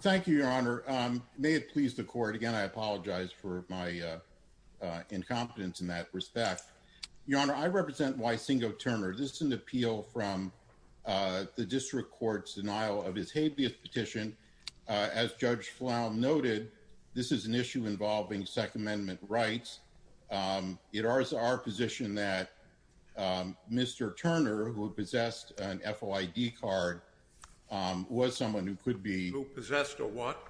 Thank you, Your Honor. May it please the Court, again I apologize for my incompetence in that respect. Your Honor, I represent Wysingo Turner. This is an appeal from the District Court's denial of his habeas petition. As Judge Flown noted, this is an issue involving Second Amendment rights. It is our position that Mr. Turner, who possessed an FOID card, was someone who could be... Who possessed a what?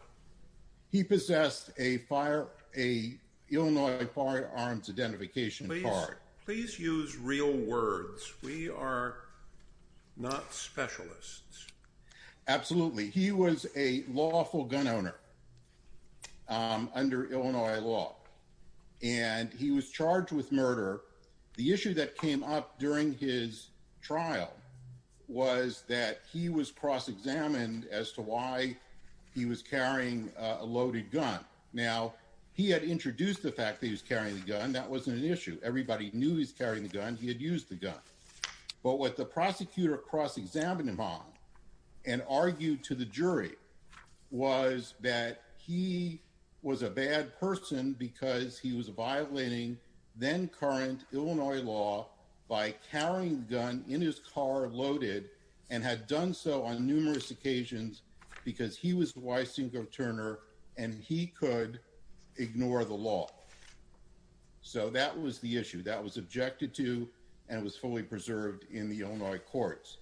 He possessed an Illinois Firearms Identification Card. Please use real words. We are not specialists. Absolutely. He was a lawful gun owner under Illinois law, and he was charged with murder. The issue that came up during his trial was that he was cross-examined as to why he was carrying a loaded gun. Now, he had introduced the fact that he was carrying the gun. That wasn't an issue. Everybody knew he was carrying the gun. He had used the gun. But what the and argued to the jury was that he was a bad person because he was violating then-current Illinois law by carrying the gun in his car, loaded, and had done so on numerous occasions because he was Wysingo Turner and he could ignore the law. So that was the issue that was objected to, and it was fully preserved in the Illinois courts.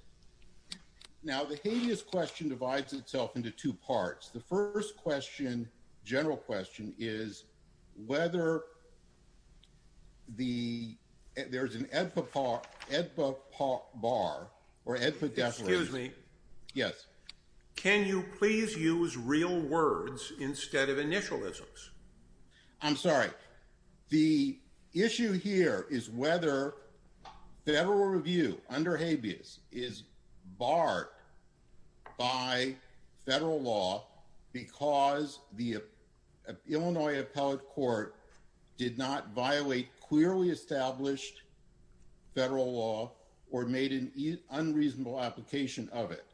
Now, the habeas question divides itself into two parts. The first question, general question, is whether the... There's an EDPA bar or EDPA definition. Excuse me. Yes. Can you please use real words instead of initialisms? I'm sorry. The issue here is whether federal review under habeas is barred by federal law because the Illinois appellate court did not violate clearly established federal law or made an unreasonable application of it.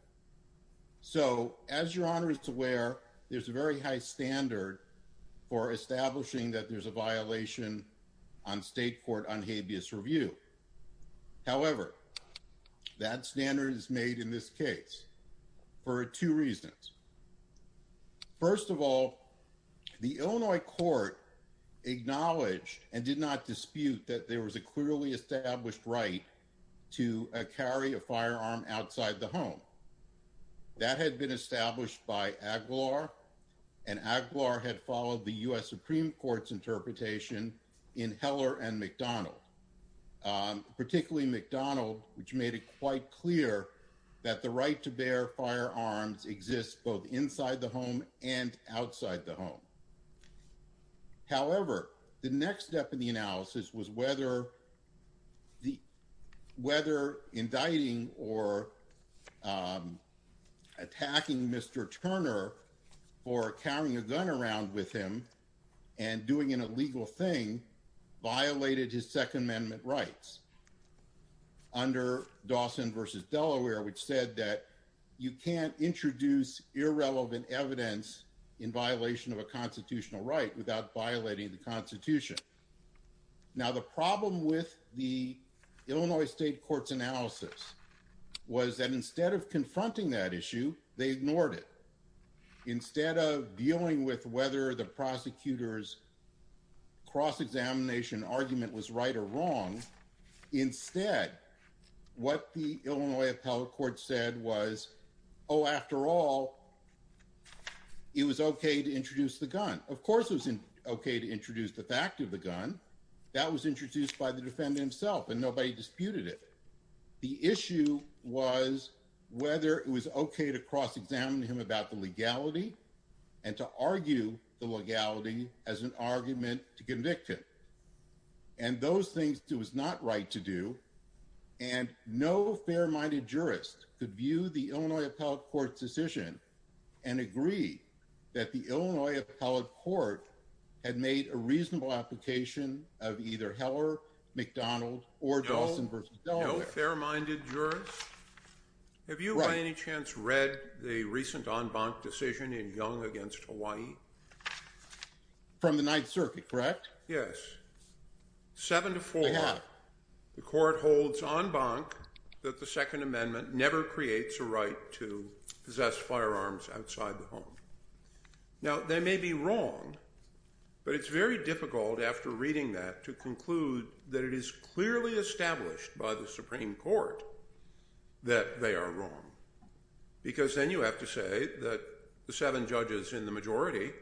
So as Your Honor is aware, there's a very high standard for establishing that there's a violation on state court on habeas review. However, that standard is made in this case for two reasons. First of all, the Illinois court acknowledged and did not dispute that there was a clearly established right to carry a firearm outside the home. That had been established by Aguilar and Aguilar had followed the U.S. Supreme Court's interpretation in Heller and McDonald, particularly McDonald, which made it quite clear that the right to bear firearms exists both inside the home and outside the home. However, the next step in the analysis was whether the... Whether indicting or attacking Mr. Turner for carrying a gun around with him and doing an illegal thing violated his Second Amendment rights under Dawson versus Delaware, which said that you can't introduce irrelevant evidence in violation of a constitutional right without violating the Constitution. Now, the problem with the Illinois state court's analysis was that instead of confronting that issue, they ignored it. Instead of dealing with whether the prosecutor's cross-examination argument was right or wrong, instead, what the Illinois court said was, oh, after all, it was okay to introduce the gun. Of course it was okay to introduce the fact of the gun. That was introduced by the defendant himself and nobody disputed it. The issue was whether it was okay to cross-examine him about the legality and to argue the legality as an argument to convict him. And those things it was not right to do. And no fair-minded jurist could view the Illinois appellate court's decision and agree that the Illinois appellate court had made a reasonable application of either Heller, McDonald, or Dawson versus Delaware. No fair-minded jurist? Have you by any chance read the recent en banc decision in Young against Hawaii? From the Ninth Circuit, correct? Yes. Seven to four, the court holds en banc that the Second Amendment never creates a right to possess firearms outside the home. Now, they may be wrong, but it's very difficult after reading that to conclude that it is clearly established by the Supreme Court that they are wrong. Because then you have to say that the seven judges in the majority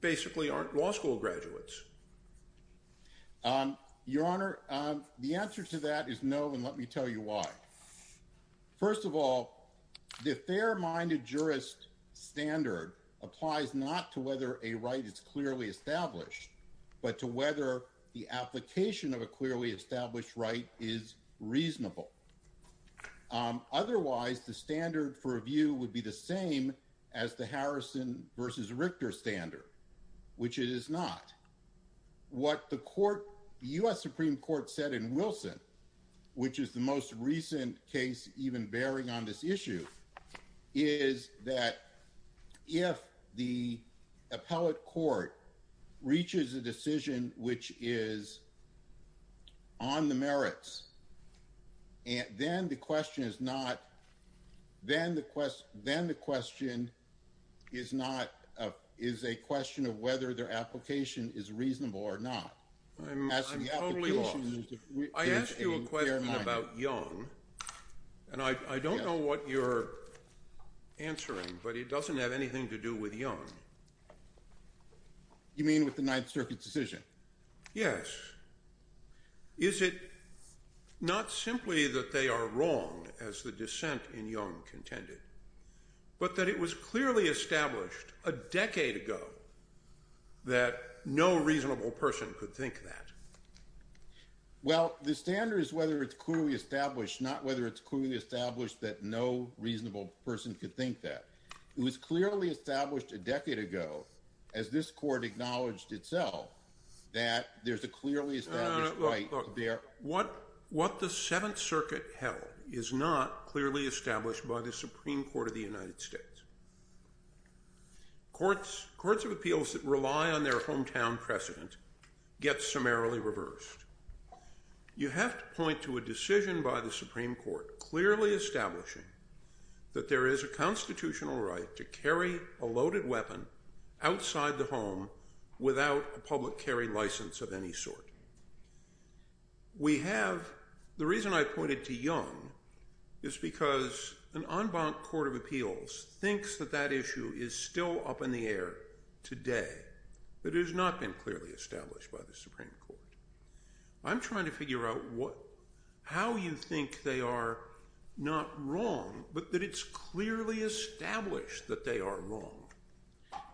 basically aren't law school graduates. Your Honor, the answer to that is no, and let me tell you why. First of all, the fair-minded jurist standard applies not to whether a right is clearly established, but to whether the application of a clearly established right is reasonable. Otherwise, the standard for review would be the same as the Harrison versus Richter standard, which it is not. What the U.S. Supreme Court said in Wilson, which is the most recent case even bearing on this issue, is that if the appellate court reaches a decision which is based on the merits, then the question is a question of whether their application is reasonable or not. I'm totally lost. I asked you a question about Young, and I don't know what you're answering, but it doesn't have anything to do with Young. You mean with the Ninth Circuit's decision? Yes. Is it not simply that they are wrong, as the dissent in Young contended, but that it was clearly established a decade ago that no reasonable person could think that? Well, the standard is whether it's clearly established, not whether it's clearly established that no reasonable person could think that. It was clearly established a decade ago, as this court acknowledged itself, that there's a clearly established right there. What the Seventh Circuit held is not clearly established by the Supreme Court of the United States. Courts of appeals that rely on their hometown precedent get summarily reversed. You have to point to a decision by the Supreme Court clearly establishing that there is a constitutional right to carry a loaded weapon outside the home without a public carry license of any sort. The reason I pointed to Young is because an en banc court of appeals thinks that that issue is still up in the air today, but it has not been clearly established by the Supreme Court. I'm trying to figure out how you think they are not wrong, but that it's clearly established that they are wrong.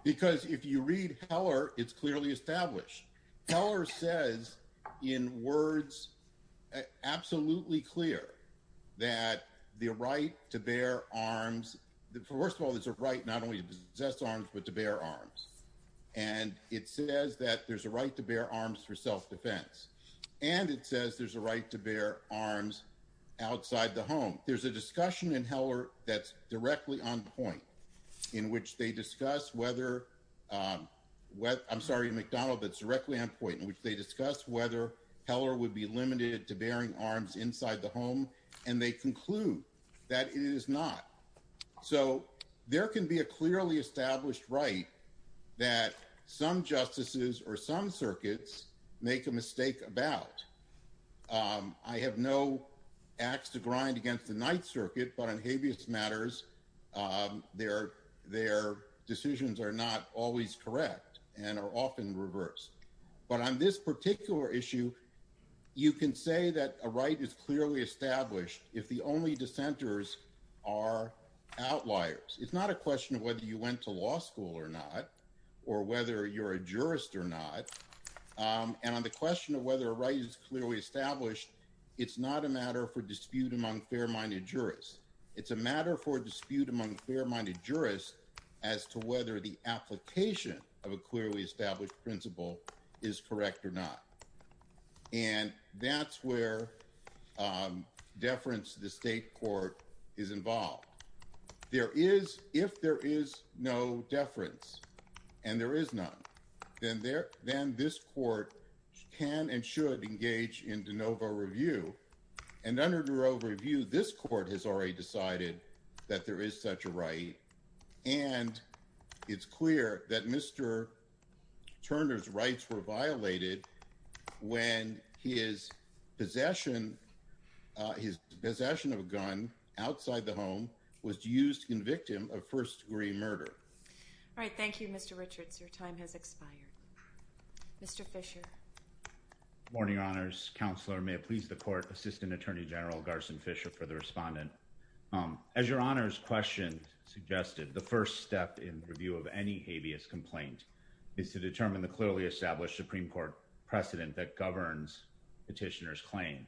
Because if you read Heller, it's clearly established. Heller says in words absolutely clear that the right to bear arms, first of all, there's a right not only to possess arms, but to bear arms. And it says that there's a right to bear arms for self-defense. And it says there's a right to bear arms outside the home. There's a discussion in Heller that's directly on point, in which they discuss whether, I'm sorry, McDonald, but directly on point, in which they discuss whether Heller would be limited to bearing arms inside the home. And they conclude that it is not. So there can be a clearly established right that some justices or some circuits make a mistake about. I have no axe to grind against the Ninth Circuit, but on habeas matters, their decisions are not always correct and are often reversed. But on this particular issue, you can say that a right is clearly established if the only dissenters are outliers. It's not a question of whether you went to law school or not, or whether you're a jurist or not. And on the question of whether a right is clearly established, it's not a matter for dispute among fair-minded jurists. It's a matter for principle is correct or not. And that's where deference to the state court is involved. There is, if there is no deference, and there is none, then this court can and should engage in de novo review. And under de novo review, this court has already decided that there is such a Turner's rights were violated when his possession of a gun outside the home was used to convict him of first-degree murder. All right. Thank you, Mr. Richards. Your time has expired. Mr. Fisher. Morning, Your Honors. Counselor, may it please the Court, Assistant Attorney General Garson Fisher for the respondent. As Your Honor's question suggested, the first step in review of any habeas complaint is to determine the clearly established Supreme Court precedent that governs petitioner's claim.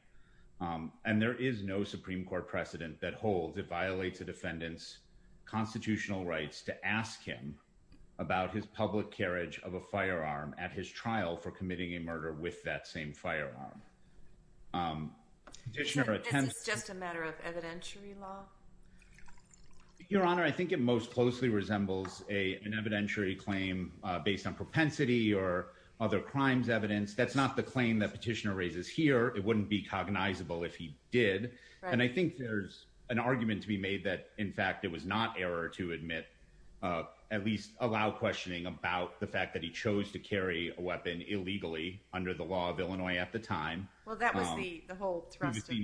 And there is no Supreme Court precedent that holds it violates a defendant's constitutional rights to ask him about his public carriage of a firearm at his trial for committing a murder with that same firearm. Is this just a matter of evidentiary law? Your Honor, I think it most closely resembles an evidentiary claim based on propensity or other crimes evidence. That's not the claim that petitioner raises here. It wouldn't be cognizable if he did. And I think there's an argument to be made that, in fact, it was not error to admit, at least allow questioning about the fact that he chose to carry a weapon illegally under the law of Illinois at the time. Well, that was the whole thrust of the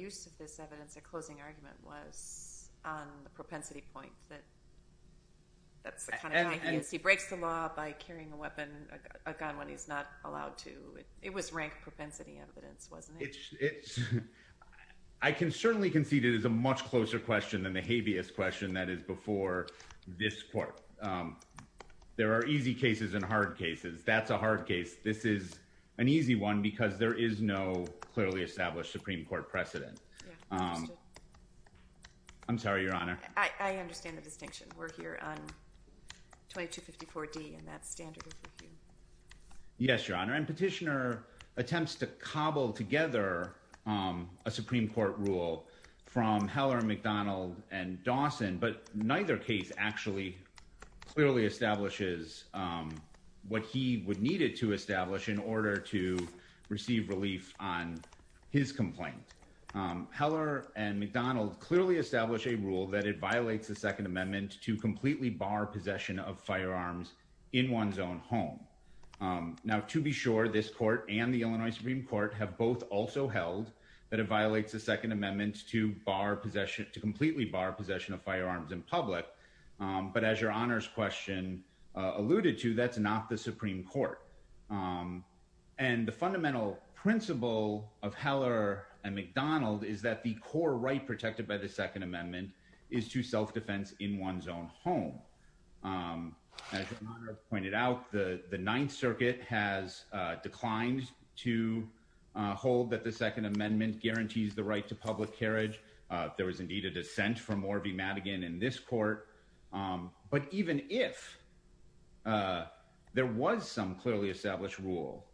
use of this evidence. The closing argument was on the propensity point that that's the kind of guy he is. He breaks the law by carrying a weapon, a gun, when he's not allowed to. It was rank propensity evidence, wasn't it? I can certainly concede it is a much closer question than the habeas question that is before this Court. There are easy cases and hard cases. That's a hard case. This is an easy one because there is no clearly established Supreme Court precedent. I'm sorry, Your Honor. I understand the distinction. We're here on 2254D and that's standard review. Yes, Your Honor. And petitioner attempts to cobble together a Supreme Court rule from Heller, McDonald, and Dawson, but neither case actually clearly establishes what he would need it to establish in order to receive relief on his complaint. Heller and McDonald clearly establish a rule that it violates the Second Amendment to completely bar possession of firearms in one's own home. Now, to be sure, this Court and the Illinois Supreme Court have both also held that it violates the Second Amendment to completely bar possession of firearms in one's own home. Now, if that's not the Supreme Court that's been alluded to, that's not the Supreme Court. And the fundamental principle of Heller and McDonald is that the core right protected by the Second Amendment is to self-defense in one's own home. As Your Honor has pointed out, the Ninth Circuit has declined to hold that the Second Amendment guarantees the right to public possession. There was some clearly established rule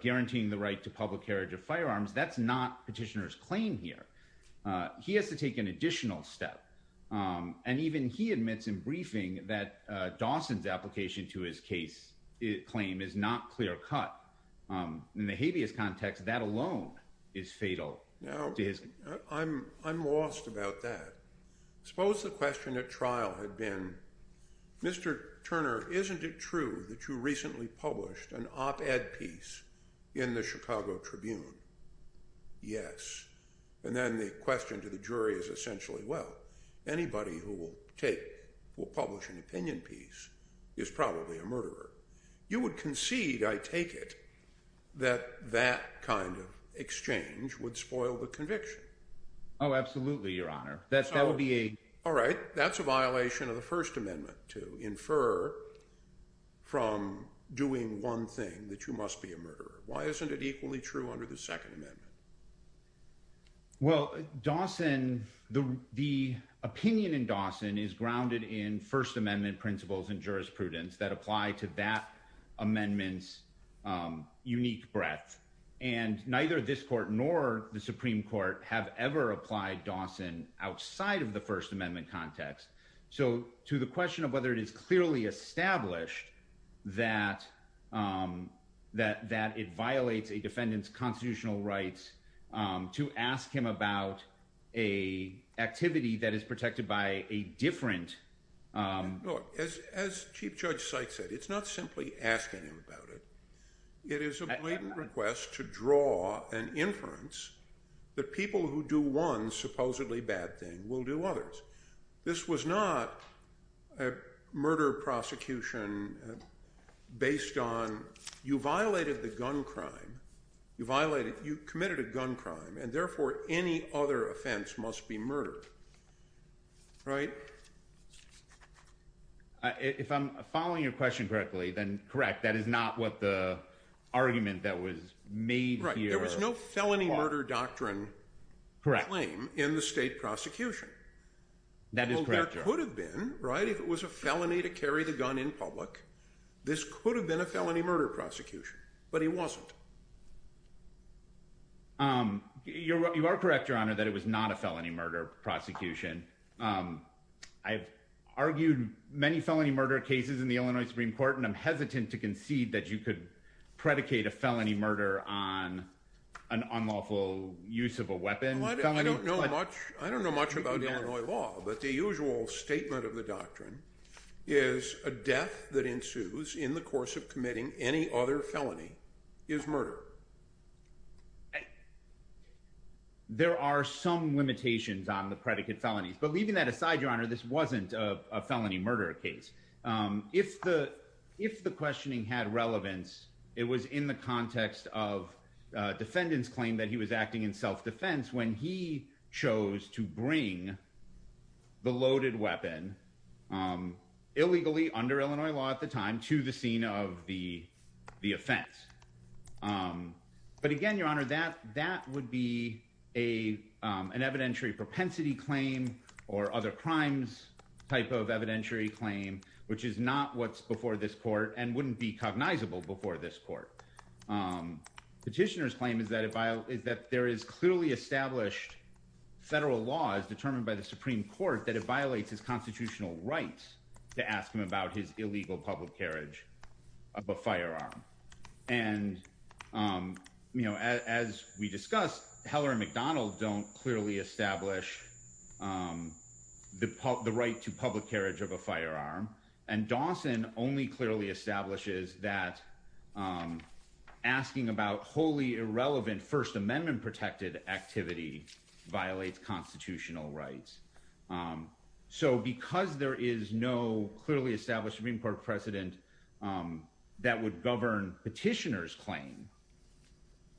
guaranteeing the right to public carriage of firearms. That's not petitioner's claim here. He has to take an additional step. And even he admits in briefing that Dawson's application to his case claim is not clear-cut. In the habeas context, that alone is fatal. Now, I'm lost about that. Suppose the question at trial had been, Mr. Turner, isn't it true that you recently published an op-ed piece in the Chicago Tribune? Yes. And then the question to the jury is essentially, well, anybody who will publish an opinion piece is probably a murderer. You would concede, I take it, that that kind of exchange would spoil the conviction. Oh, absolutely, Your Honor. That is a violation of the First Amendment to infer from doing one thing that you must be a murderer. Why isn't it equally true under the Second Amendment? Well, Dawson, the opinion in Dawson is grounded in First Amendment principles and jurisprudence that apply to that amendment's unique breadth. And neither this court nor the Supreme Court have ever applied Dawson outside of the First Amendment context. So to the question of whether it is clearly established that it violates a defendant's constitutional rights to ask him about an activity that is protected by a different... Look, as Chief Judge Sykes said, it's not simply asking him about it. It is a blatant request to draw an inference that people who do one supposedly bad thing will do others. This was not a murder prosecution based on, you violated the gun crime, you violated, you committed a gun crime, and therefore any other offense must be murdered. Right? If I'm following your question correctly, then correct, that is not what the argument that was made here... Right, there was no felony murder doctrine claim in the state prosecution. That is correct, Your Honor. Well, there could have been, right, if it was a felony to carry the gun in public, this could have been a felony murder prosecution, but it wasn't. You are correct, Your Honor, that it was not a felony murder prosecution. I've argued many felony murder cases in the Illinois Supreme Court, and I'm hesitant to concede that you could predicate a felony murder on an unlawful use of a weapon. I don't know much about Illinois law, but the usual statement of the doctrine is a death that ensues in the course of committing any other felony is murder. There are some limitations on the predicate felonies, but leaving that aside, Your Honor, this wasn't a felony murder case. If the questioning had relevance, it was in the context of a defendant's claim that he was acting in self-defense when he chose to bring the loaded weapon, illegally under Illinois law at the time, to the scene of the offense. But again, Your Honor, that would be an evidentiary propensity claim or other crimes type of evidentiary claim, which is not what's before this court and wouldn't be cognizable before this court. Petitioner's claim is that there is clearly established federal law as determined by the Supreme Court that it violates his constitutional right to ask him about his firearm. As we discussed, Heller and McDonald don't clearly establish the right to public carriage of a firearm, and Dawson only clearly establishes that asking about wholly irrelevant First Amendment protected activity violates constitutional rights. So because there is no established Supreme Court precedent that would govern petitioner's claim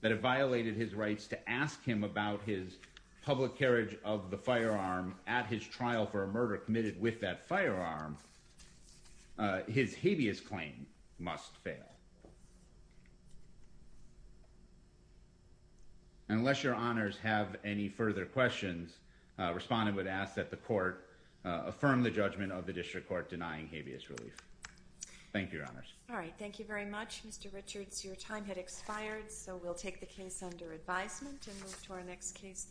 that it violated his rights to ask him about his public carriage of the firearm at his trial for a murder committed with that firearm, his habeas claim must fail. Unless Your Honors have any further questions, respondent would ask that the court affirm the judgment of the district court denying habeas relief. Thank you, Your Honors. All right. Thank you very much, Mr. Richards. Your time had expired, so we'll take the case under advisement and move to our next case.